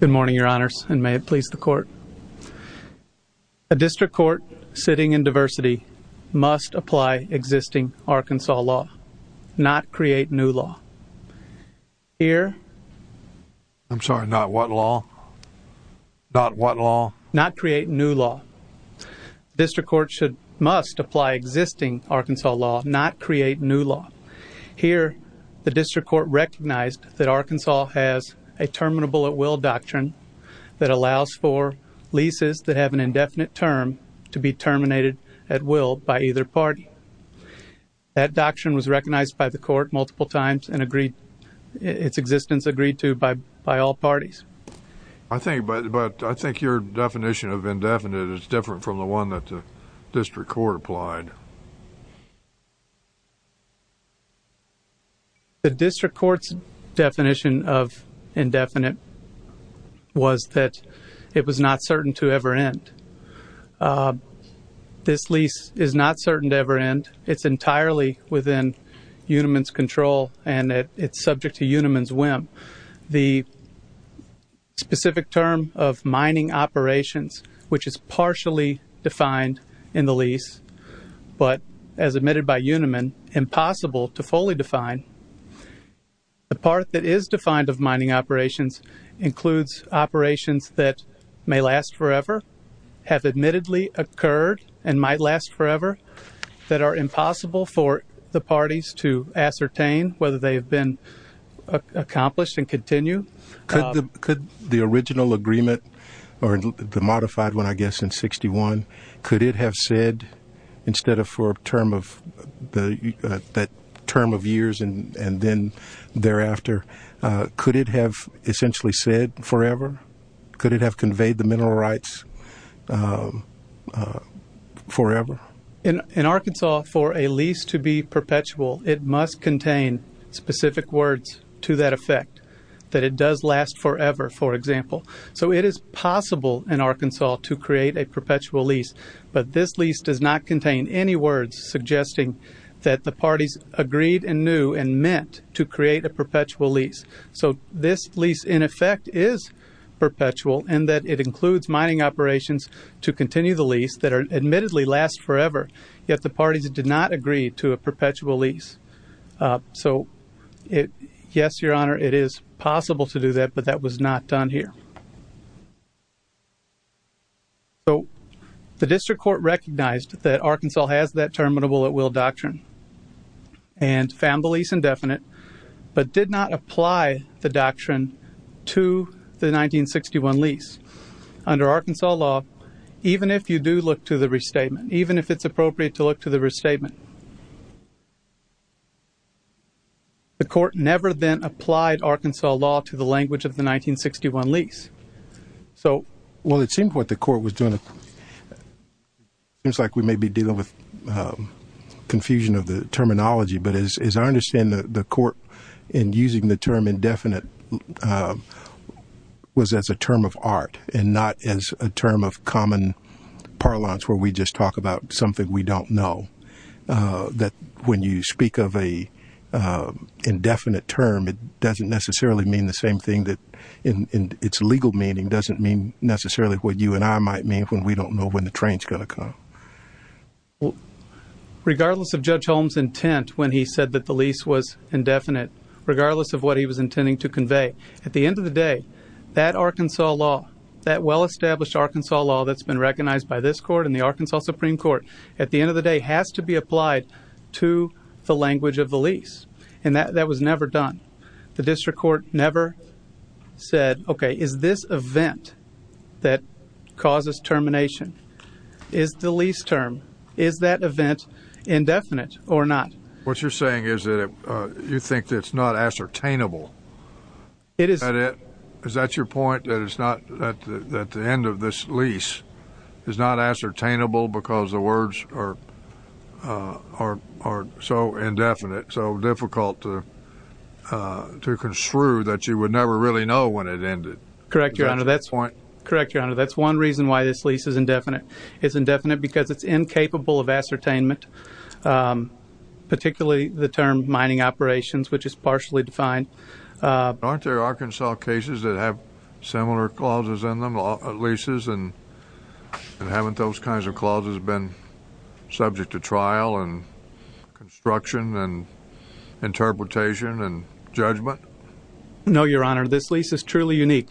Good morning, your honors, and may it please the court. A district court sitting in diversity must apply existing Arkansas law, not create new law. Here, I'm sorry, not what law? Not what law? Not create new law. District court must apply existing Arkansas law, not create new law. Here, the district court recognized that Arkansas has a terminable-at-will doctrine that allows for leases that have an indefinite term to be terminated at will by either party. That doctrine was recognized by the court multiple times and agreed, its existence agreed to by all parties. I think, but I think your definition of indefinite is different from the one that the district court applied. The district court's definition of indefinite was that it was not certain to ever end. This lease is not certain to ever end. It's entirely within Unimin's control and it's subject to Unimin's whim. The specific term of mining operations, which is partially defined in the lease, but as admitted by Unimin, impossible to fully define. The part that is defined of mining operations includes operations that may last forever, have admittedly occurred and might last forever, that are impossible for the parties to ascertain whether they have been accomplished and continue. Could the original agreement, or the modified one, I guess, in 61, could it have said, instead of for a term of years and then thereafter, could it have essentially said forever? Could it have conveyed the mineral rights forever? In Arkansas, for a lease to be perpetual, it must contain specific words to that effect that it does last forever, for example. So it is possible in Arkansas to create a perpetual lease, but this lease does not contain any words suggesting that the parties agreed and knew and meant to create a perpetual lease. So this lease, in effect, is perpetual in that it includes mining operations to continue the lease that admittedly last forever, yet the parties did not agree to a perpetual lease. So yes, Your Honor, it is possible to do that, but that was not done here. The District Court recognized that Arkansas has that terminable at will doctrine and found the lease indefinite, but did not apply the doctrine to the 1961 lease. Under Arkansas law, even if you do look to the restatement, even if it's appropriate to look to the restatement, the court never then applied Arkansas law to the language of the 1961 lease. So well, it seems what the court was doing, it seems like we may be dealing with confusion of the terminology, but as I understand the court in using the term indefinite was as a term of art and not as a term of common parlance where we just talk about something we don't know, that when you speak of a indefinite term, it doesn't necessarily mean the same thing that in its legal meaning doesn't mean necessarily what you and I might mean when we don't know when the train's going to come. Regardless of Judge Holmes' intent when he said that the lease was indefinite, regardless of what he was intending to convey, at the end of the day, that Arkansas law, that well-established Arkansas law that's been recognized by this court and the Arkansas Supreme Court, at the end of the day has to be applied to the language of the lease, and that was never done. The district court never said, okay, is this event that causes termination, is the lease term, is that event indefinite or not? What you're saying is that you think it's not ascertainable. Is that your point, that the end of this lease is not ascertainable because the words are so indefinite, so difficult to construe that you would never really know when it ended? Correct, Your Honor. That's one reason why this lease is indefinite. It's indefinite because it's incapable of ascertainment, particularly the term mining operations, which is partially defined. Aren't there Arkansas cases that have similar clauses in them, leases, and haven't those kinds of clauses been subject to trial and construction and interpretation and judgment? No, Your Honor. This lease is truly unique.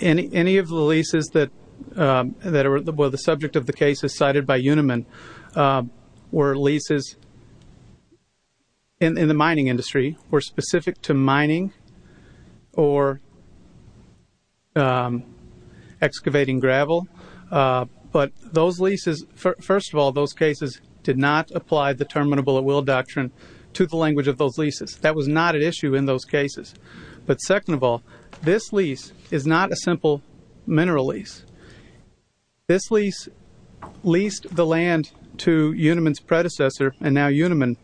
Any of the leases that were the subject of the cases cited by Uniman were leases in the mining industry, were specific to mining or excavating gravel. But those leases, first of all, those cases did not apply the terminable at will doctrine to the language of those leases. That was not at issue in those cases. But second of all, this lease is not a simple mineral lease. This lease leased the land to Uniman's predecessor, and now Uniman,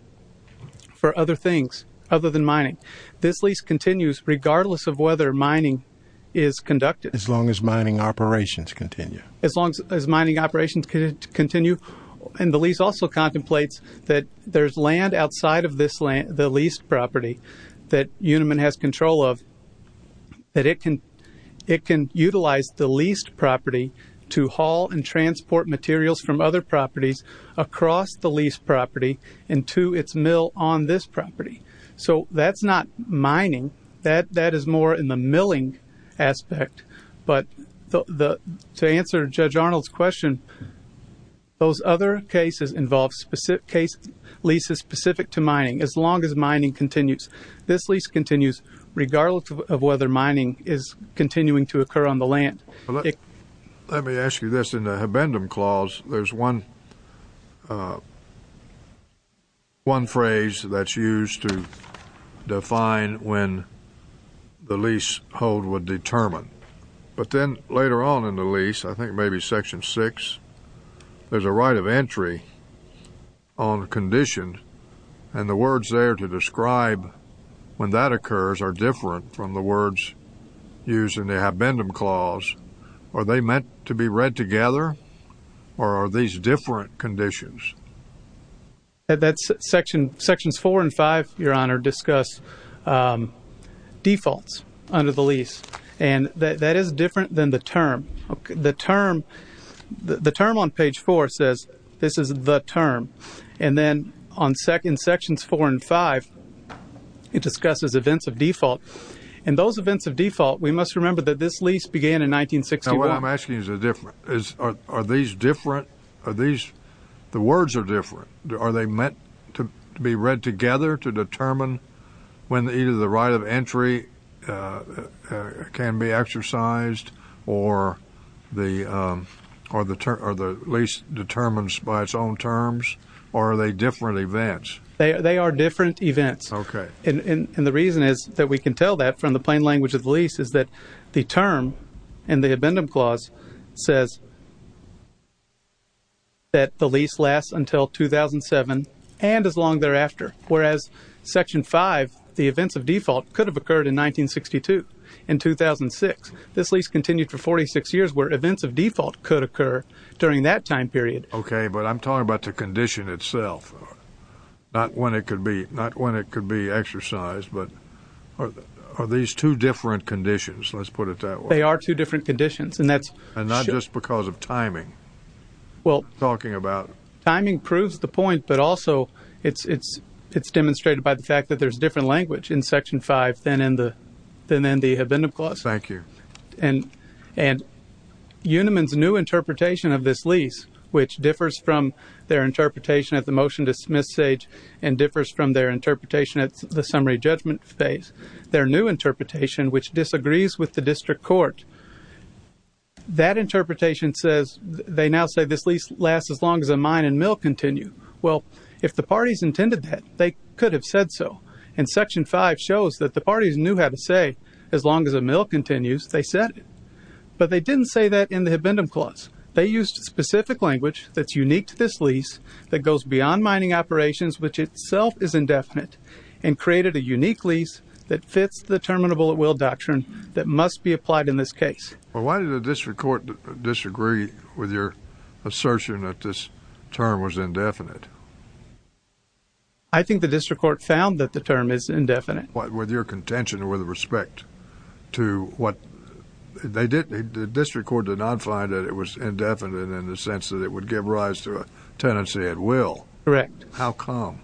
for other things other than mining. This lease continues regardless of whether mining is conducted. As long as mining operations continue. As long as mining operations continue. And the lease also contemplates that there's land outside of the leased property that Uniman has control of, that it can utilize the leased property to haul and transport materials from other properties across the leased property into its mill on this property. So that's not mining. That is more in the milling aspect. But to answer Judge Arnold's question, those other cases involve leases specific to mining as long as mining continues. This lease continues regardless of whether mining is continuing to occur on the land. Let me ask you this. In the Habendum Clause, there's one phrase that's used to define when the leasehold would determine. But then later on in the lease, I think maybe Section 6, there's a right of entry on condition. And the words there to describe when that occurs are different from the words used in the Habendum Clause. Are they meant to be read together? Or are these different conditions? Sections 4 and 5, Your Honor, discuss defaults under the lease. And that is different than the term. The term on page 4 says, this is the term. And then in Sections 4 and 5, it discusses events of default. And those events of default, we must remember that this lease began in 1961. Now what I'm asking is different. Are these different? The words are different. Are they meant to be read together to determine when either the right of entry can be exercised or the lease determines by its own terms? Or are they different events? They are different events. Okay. And the reason is that we can tell that from the plain language of the lease is that the term in the Habendum Clause says that the lease lasts until 2007 and as long thereafter. Whereas Section 5, the events of default, could have occurred in 1962, in 2006. This lease continued for 46 years where events of default could occur during that time period. Okay. But I'm talking about the condition itself, not when it could be exercised. But are these two different conditions? Let's put it that way. They are two different conditions. And not just because of timing? Well, timing proves the point, but also it's demonstrated by the fact that there's different language in Section 5 than in the Habendum Clause. Thank you. And Uniman's new interpretation of this lease, which differs from their interpretation at the motion-dismiss stage and differs from their interpretation at the summary judgment phase, their new interpretation, which disagrees with the district court, that interpretation says they now say this lease lasts as long as a mine and mill continue. Well, if the parties intended that, they could have said so. And Section 5 shows that the parties knew how to say, as long as a mill continues, they said it. But they didn't say that in the Habendum Clause. They used specific language that's unique to this lease that goes beyond mining operations, which itself is indefinite, and created a unique lease that fits the Terminable at Will Doctrine that must be applied in this case. Well, why did the district court disagree with your assertion that this term was indefinite? I think the district court found that the term is indefinite. With your contention, with respect to what they did, the district court did not find that it was indefinite in the sense that it would give rise to a tenancy at will. Correct. How come?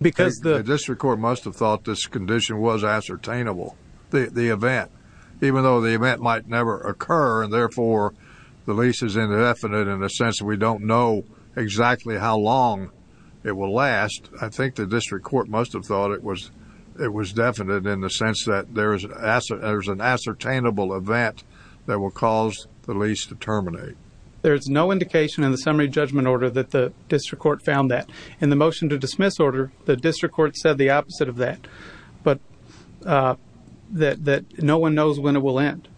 Because the district court must have thought this condition was ascertainable, the event, even though the event might never occur and, therefore, the lease is indefinite in the sense that we don't know exactly how long it will last, I think the district court must have thought it was definite in the sense that there's an ascertainable event that will cause the lease to terminate. There's no indication in the summary judgment order that the district court found that. In the motion to dismiss order, the district court said the opposite of that, but that no one knows when it will end.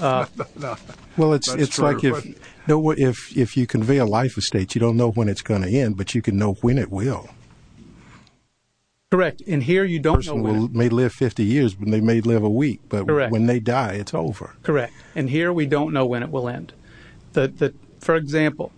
Well, it's like if you convey a life estate, you don't know when it's going to end, but you can know when it will. Correct. And here you don't know when. A person may live 50 years, they may live a week, but when they die, it's over. Correct. And here we don't know when it will end. For example,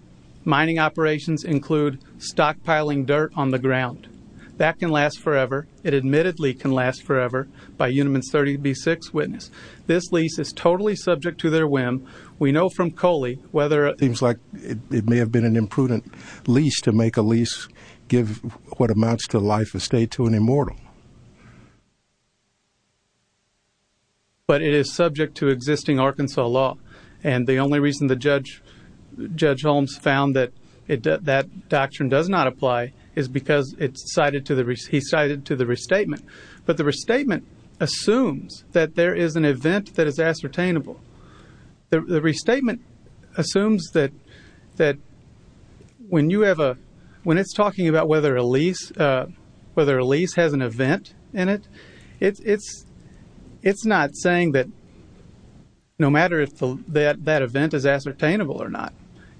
mining operations include stockpiling dirt on the ground. That can last forever. It admittedly can last forever, by Uniman's 30B6 witness. This lease is totally subject to their whim. We know from Coley whether it seems like it may have been an imprudent lease to make a lease give what amounts to life estate to an immortal. But it is subject to existing Arkansas law, and the only reason that Judge Holmes found that that doctrine does not apply is because he cited to the restatement. But the restatement assumes that there is an event that is ascertainable. The restatement assumes that when it's talking about whether a lease has an event in it, it's not saying that no matter if that event is ascertainable or not.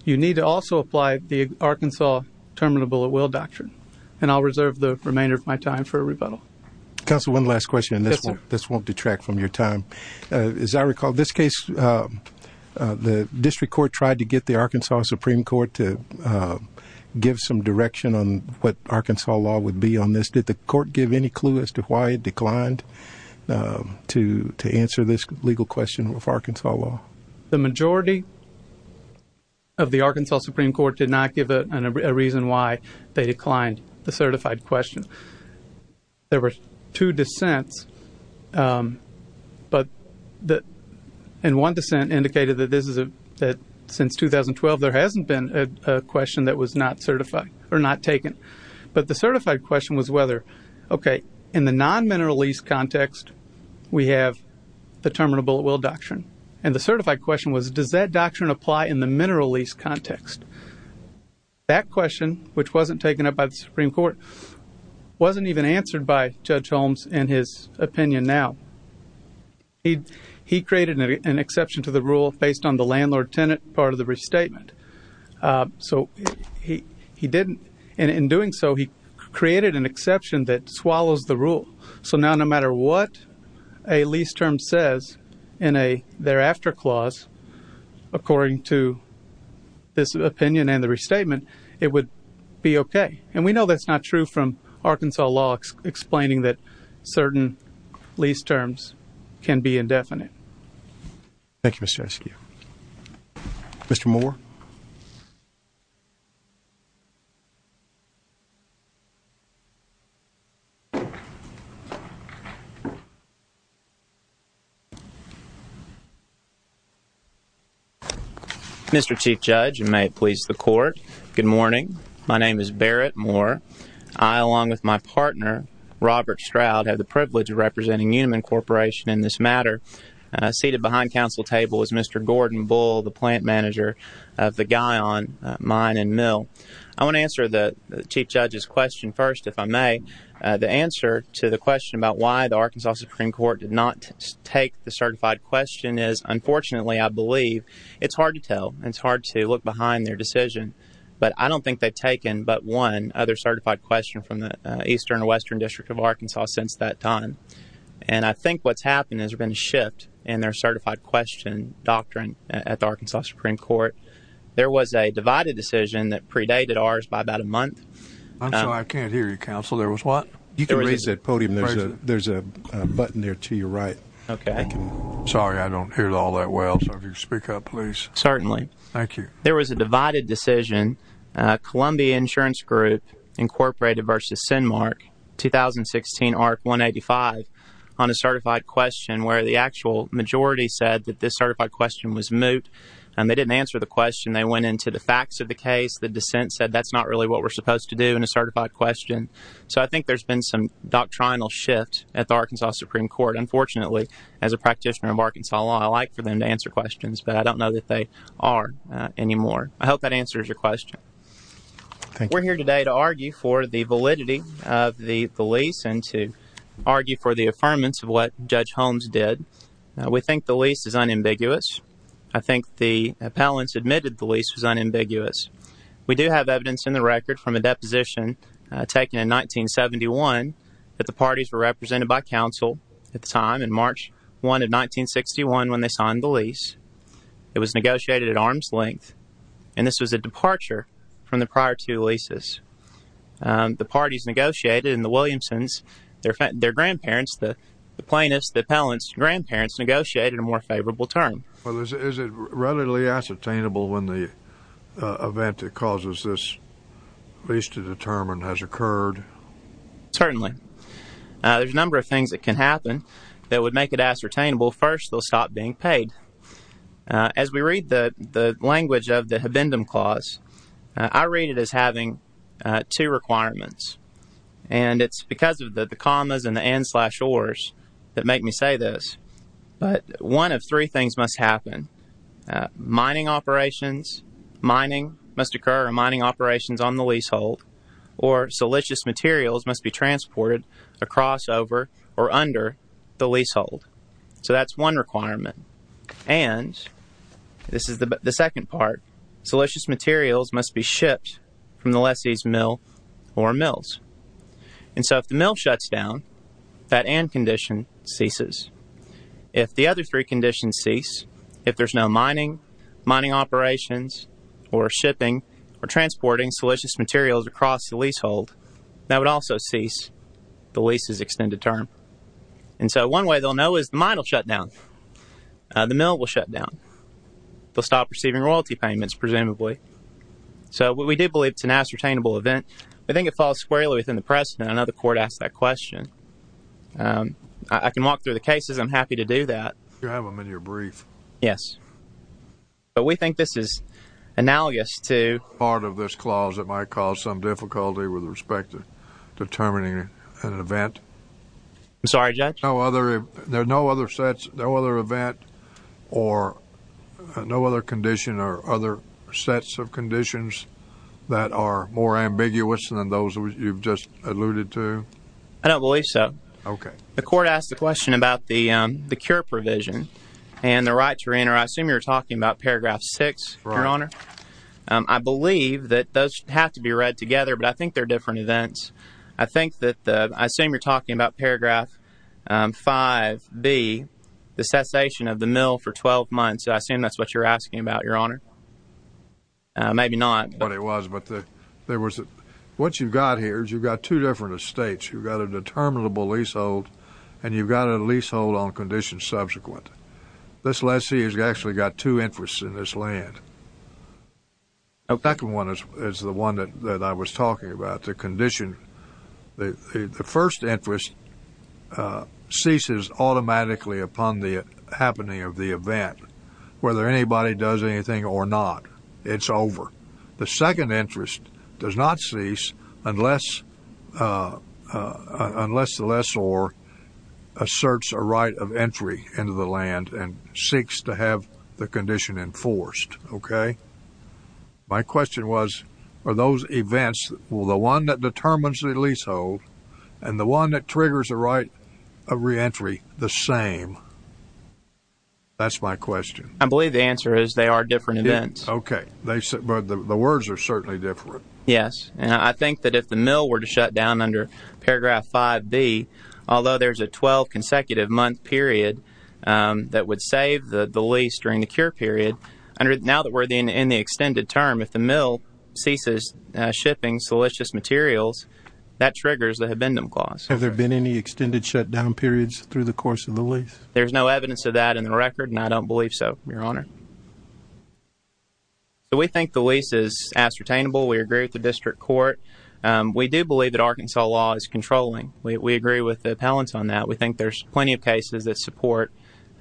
You need to also apply the Arkansas Terminable at Will Doctrine. And I'll reserve the remainder of my time for a rebuttal. Counsel, one last question, and this won't detract from your time. As I recall, this case, the district court tried to get the Arkansas Supreme Court to give some direction on what Arkansas law would be on this. Did the court give any clue as to why it declined to answer this legal question of Arkansas law? The majority of the Arkansas Supreme Court did not give a reason why they declined the certified question. There were two dissents, and one dissent indicated that since 2012, there hasn't been a question that was not certified or not taken. But the certified question was whether, okay, in the non-mineral lease context, we have the Terminable at Will Doctrine. And the certified question was, does that doctrine apply in the mineral lease context? That question, which wasn't taken up by the Supreme Court, wasn't even answered by Judge Holmes in his opinion now. He created an exception to the rule based on the landlord-tenant part of the restatement. So he didn't, and in doing so, he created an exception that swallows the rule. So now, no matter what a lease term says in a thereafter clause, according to this opinion and the restatement, it would be okay. And we know that's not true from Arkansas law explaining that certain lease terms can be indefinite. Thank you, Mr. Eskew. Mr. Moore? Mr. Chief Judge, and may it please the Court, good morning. My name is Barrett Moore. I, along with my partner, Robert Stroud, have the privilege of representing Uniman Corporation in this matter. Seated behind council table is Mr. Gordon Bull, the plant manager of the Guyon Mine and Mill. I want to answer the Chief Judge's question first, if I may. The answer to the question about why the Arkansas Supreme Court did not take the certified question is unfortunately, I believe, it's hard to tell. It's hard to look behind their decision. But I don't think they've taken but one other certified question from the Eastern or Western District of Arkansas since that time. And I think what's happened is there's been a shift in their certified question doctrine at the Arkansas Supreme Court. There was a divided decision that predated ours by about a month. I'm sorry, I can't hear you, counsel. There was what? You can raise that podium. There's a button there to your right. Okay. Sorry, I don't hear it all that well, so if you could speak up, please. Certainly. Thank you. There was a divided decision. Columbia Insurance Group, Incorporated v. CINMARC, 2016 Art 185, on a certified question where the actual majority said that this certified question was moot. And they didn't answer the question. They went into the facts of the case. The dissent said that's not really what we're supposed to do in a certified question. So I think there's been some doctrinal shift at the Arkansas Supreme Court. Unfortunately, as a practitioner of Arkansas law, I like for them to answer questions, but I don't know that they are anymore. I hope that answers your question. We're here today to argue for the validity of the lease and to argue for the affirmance of what Judge Holmes did. We think the lease is unambiguous. I think the appellants admitted the lease was unambiguous. We do have evidence in the record from a deposition taken in 1971 that the parties were represented by counsel at the time in March 1 of 1961 when they signed the lease. It was negotiated at arm's length, and this was a departure from the prior two leases. The parties negotiated, and the Williamson's, their grandparents, the plaintiffs, the appellants' grandparents negotiated a more favorable term. Is it readily ascertainable when the event that causes this lease to determine has occurred? Certainly. There's a number of things that can happen that would make it ascertainable. First, they'll stop being paid. As we read the language of the Habendum Clause, I read it as having two requirements. And it's because of the commas and the ands slash ors that make me say this. But one of three things must happen. Mining operations, mining must occur, or mining operations on the leasehold, or siliceous materials must be transported across, over, or under the leasehold. So that's one requirement. And this is the second part. Siliceous materials must be shipped from the lessee's mill or mills. And so if the mill shuts down, that and condition ceases. If the other three conditions cease, if there's no mining, mining operations, or shipping, or transporting siliceous materials across the leasehold, that would also cease the lease's extended term. And so one way they'll know is the mine will shut down. The mill will shut down. They'll stop receiving royalty payments, presumably. So we do believe it's an ascertainable event. I think it falls squarely within the precedent. I know the court asked that question. I can walk through the cases. I'm happy to do that. You have them in your brief. Yes. But we think this is analogous to part of this clause that might cause some difficulty with respect to determining an event. I'm sorry, Judge? There are no other sets, no other event, or no other condition or other sets of conditions that are more ambiguous than those you've just alluded to? I don't believe so. The court asked the question about the cure provision and the right to reenter. I assume you're talking about paragraph six, Your Honor. I believe that those have to be read together, but I think they're different events. I think that the — I assume you're talking about paragraph 5B, the cessation of the mill for 12 months. I assume that's what you're asking about, Your Honor. Maybe not. But it was. But there was — what you've got here is you've got two different estates. You've got a determinable leasehold, and you've got a leasehold on conditions subsequent. This lessee has actually got two interests in this land. The second one is the one that I was talking about, the condition — the first interest ceases automatically upon the happening of the event, whether anybody does anything or not. It's over. The second interest does not cease unless the lessor asserts a right of entry into the land and seeks to have the condition enforced, okay? My question was, are those events — well, the one that determines the leasehold and the one that triggers the right of reentry the same? That's my question. I believe the answer is they are different events. Okay. But the words are certainly different. Yes. And I think that if the mill were to shut down under Paragraph 5B, although there's a 12-consecutive-month period that would save the lease during the cure period, now that we're in the extended term, if the mill ceases shipping siliceous materials, that triggers the habendum clause. Have there been any extended shutdown periods through the course of the lease? There's no evidence of that in the record, and I don't believe so, Your Honor. We think the lease is ascertainable. We agree with the district court. We do believe that Arkansas law is controlling. We agree with the appellants on that. We think there's plenty of cases that support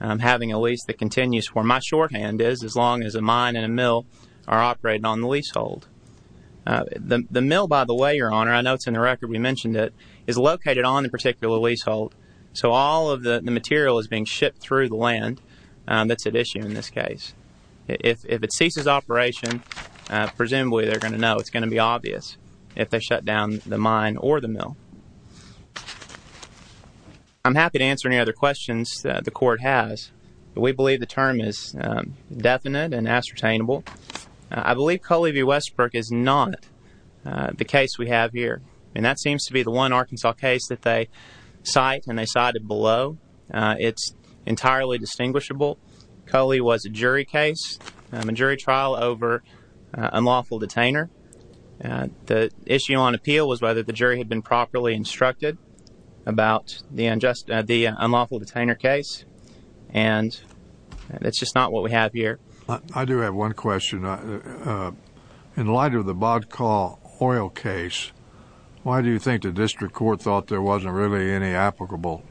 having a lease that continues where my shorthand is as long as a mine and a mill are operating on the leasehold. The mill, by the way, Your Honor — I know it's in the record, we mentioned it — is located on the particular leasehold, so all of the material is being shipped through the land that's at issue in this case. If it ceases operation, presumably, they're going to know. It's going to be obvious if they shut down the mine or the mill. I'm happy to answer any other questions the court has, but we believe the term is definite and ascertainable. I believe Coley v. Westbrook is not the case we have here, and that seems to be the one Arkansas case that they cite and they cited below. It's entirely distinguishable. Coley was a jury case, a jury trial over an unlawful detainer. The issue on appeal was whether the jury had been properly instructed about the unlawful detainer case, and it's just not what we have here. I do have one question. In light of the Bodka oil case, why do you think the district court thought there wasn't really any applicable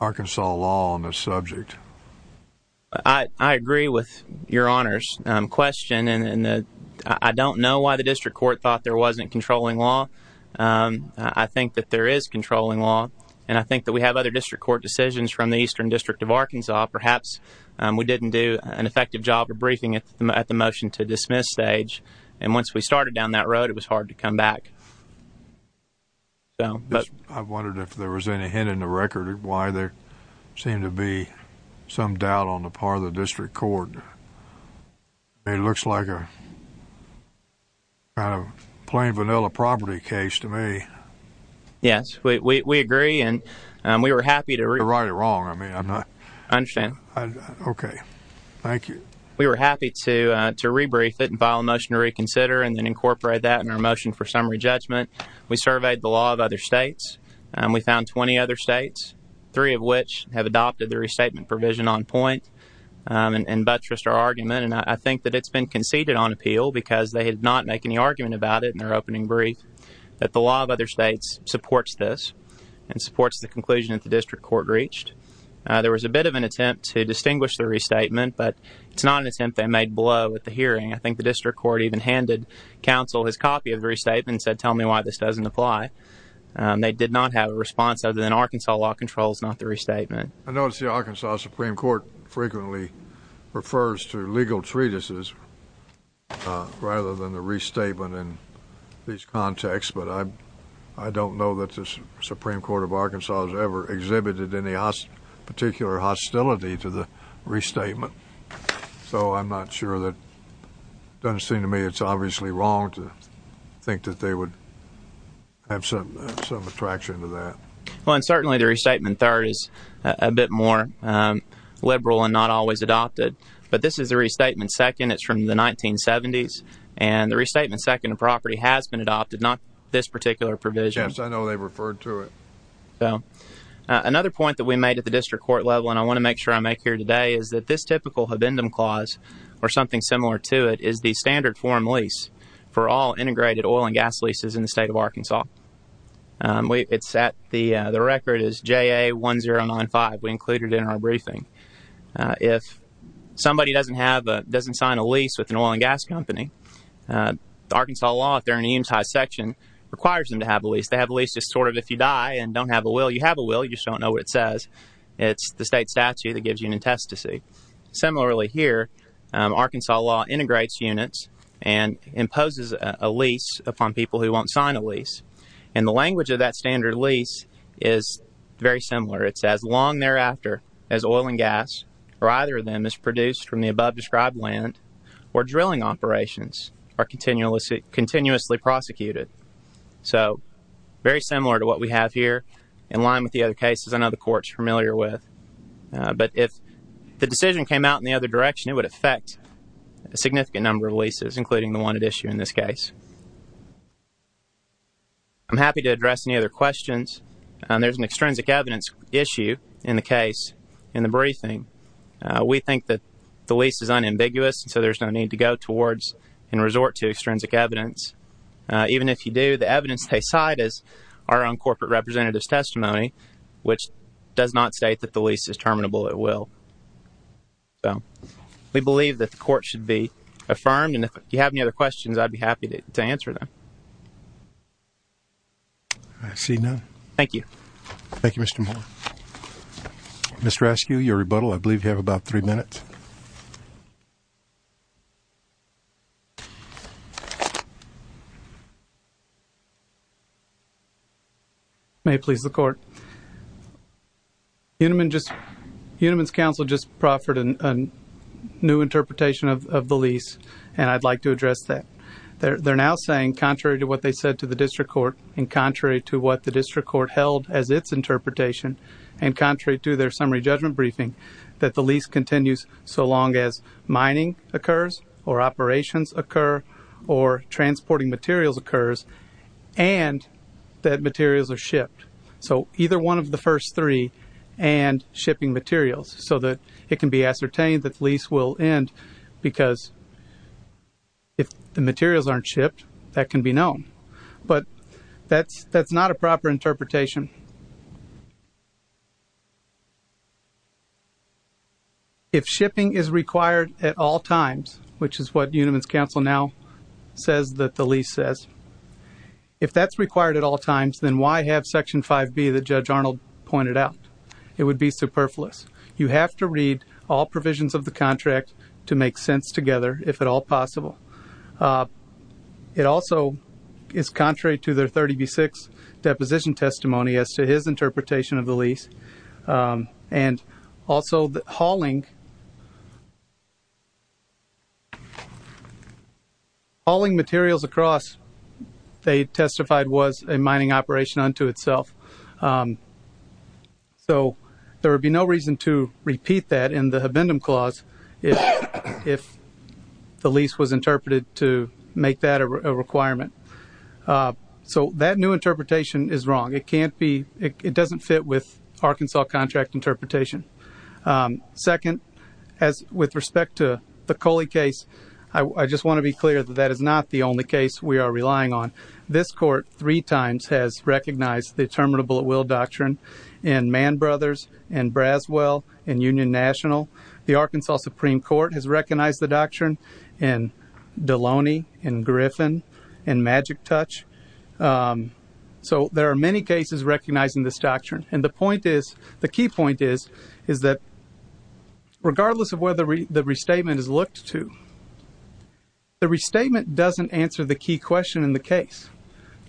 Arkansas law on the subject? I agree with your Honor's question, and I don't know why the district court thought there wasn't controlling law. I think that there is controlling law, and I think that we have other district court decisions from the Eastern District of Arkansas. Perhaps we didn't do an effective job of briefing at the motion to dismiss stage, and once we started down that road, it was hard to come back. I wondered if there was any hint in the record of why there seemed to be some doubt on the part of the district court. It looks like a kind of plain vanilla property case to me. Yes, we agree, and we were happy to— You're right or wrong. I mean, I'm not— I understand. Okay. Thank you. We were happy to rebrief it and file a motion to reconsider and then incorporate that in our motion for summary judgment. We surveyed the law of other states, and we found 20 other states, three of which have adopted the restatement provision on point and buttressed our argument, and I think that it's been conceded on appeal because they did not make any argument about it in their opening brief that the law of other states supports this and supports the conclusion that the district court reached. There was a bit of an attempt to distinguish the restatement, but it's not an attempt they made below at the hearing. I think the district court even handed counsel his copy of the restatement and said, tell me why this doesn't apply. They did not have a response other than Arkansas law controls, not the restatement. I notice the Arkansas Supreme Court frequently refers to legal treatises rather than the restatement in these contexts, but I don't know that the Supreme Court of Arkansas has ever exhibited any particular hostility to the restatement, so I'm not sure that it doesn't seem to me it's obviously wrong to think that they would have some attraction to that. Well, and certainly the restatement third is a bit more liberal and not always adopted, but this is the restatement second. It's from the 1970s, and the restatement second of property has been adopted, not this particular provision. Yes, I know they referred to it. So another point that we made at the district court level, and I want to make sure I make it clear today, is that this typical habendum clause, or something similar to it, is the standard form lease for all integrated oil and gas leases in the state of Arkansas. The record is JA1095. We included it in our briefing. If somebody doesn't sign a lease with an oil and gas company, Arkansas law, if they're in the Eames High Section, requires them to have a lease. They have a lease just sort of if you die and don't have a will, you have a will, you just don't know what it says. It's the state statute that gives you an intestacy. Similarly here, Arkansas law integrates units and imposes a lease upon people who won't sign a lease. And the language of that standard lease is very similar. It says, long thereafter as oil and gas, or either of them, is produced from the above described land, or drilling operations are continuously prosecuted. So, very similar to what we have here, in line with the other cases I know the court is familiar with. But if the decision came out in the other direction, it would affect a significant number of leases, including the one at issue in this case. I'm happy to address any other questions. There's an extrinsic evidence issue in the case, in the briefing. We think that the lease is unambiguous, so there's no need to go towards and resort to If you do, the evidence they cite is our own corporate representative's testimony, which does not state that the lease is terminable at will. So, we believe that the court should be affirmed, and if you have any other questions, I'd be happy to answer them. I see none. Thank you. Thank you, Mr. Moore. Mr. Askew, your rebuttal, I believe you have about three minutes. May it please the court. Uniman's counsel just proffered a new interpretation of the lease, and I'd like to address that. They're now saying, contrary to what they said to the district court, and contrary to what the district court held as its interpretation, and contrary to their summary judgment briefing, that the lease continues so long as mining occurs, or operations occur, or transporting materials occurs, and that materials are shipped. So, either one of the first three, and shipping materials, so that it can be ascertained that the lease will end, because if the materials aren't shipped, that can be known. But, that's not a proper interpretation. Next one. If shipping is required at all times, which is what Uniman's counsel now says that the lease says, if that's required at all times, then why have section 5B that Judge Arnold pointed out? It would be superfluous. You have to read all provisions of the contract to make sense together, if at all possible. It also is contrary to their 30B6 deposition testimony as to his interpretation of the lease, and also hauling materials across, they testified, was a mining operation unto itself. So, there would be no reason to repeat that in the Habendum Clause, if the lease was interpreted to make that a requirement. So, that new interpretation is wrong. It can't be, it doesn't fit with Arkansas contract interpretation. Second, with respect to the Coley case, I just want to be clear that that is not the only case we are relying on. This court, three times, has recognized the Terminable at Will Doctrine in Mann Brothers, in Braswell, in Union National. The Arkansas Supreme Court has recognized the doctrine in Deloney, in Griffin, in Magic Touch. So, there are many cases recognizing this doctrine. And the point is, the key point is, is that regardless of whether the restatement is looked to, the restatement doesn't answer the key question in the case.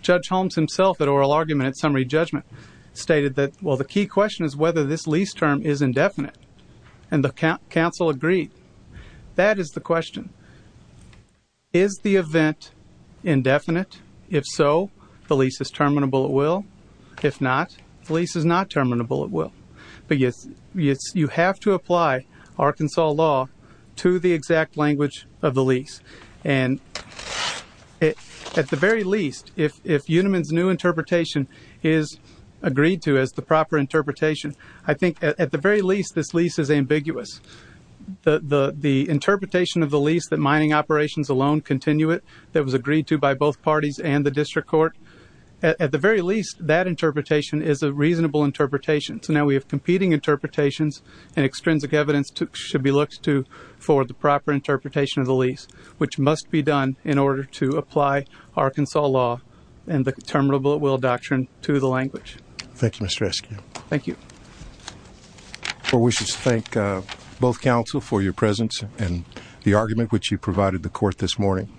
Judge Holmes himself, at oral argument at summary judgment, stated that, well, the key question is whether this lease term is indefinite. And the counsel agreed. That is the question. Is the event indefinite? If so, the lease is Terminable at Will. If not, the lease is not Terminable at Will. But you have to apply Arkansas law to the exact language of the lease. And, at the very least, if Uniman's new interpretation is agreed to as the proper interpretation, I think, at the very least, this lease is ambiguous. The interpretation of the lease, that mining operations alone continue it, that was agreed to by both parties and the district court, at the very least, that interpretation is a reasonable interpretation. So, now we have competing interpretations and extrinsic evidence should be looked to for the proper interpretation of the lease, which must be done in order to apply Arkansas law and the Terminable at Will doctrine to the language. Thank you, Mr. Eskew. Thank you. Well, we should thank both counsel for your presence and the argument which you provided the court this morning.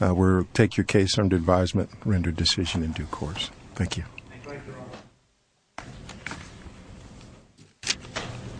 We'll take your case under advisement, render decision in due course. Thank you.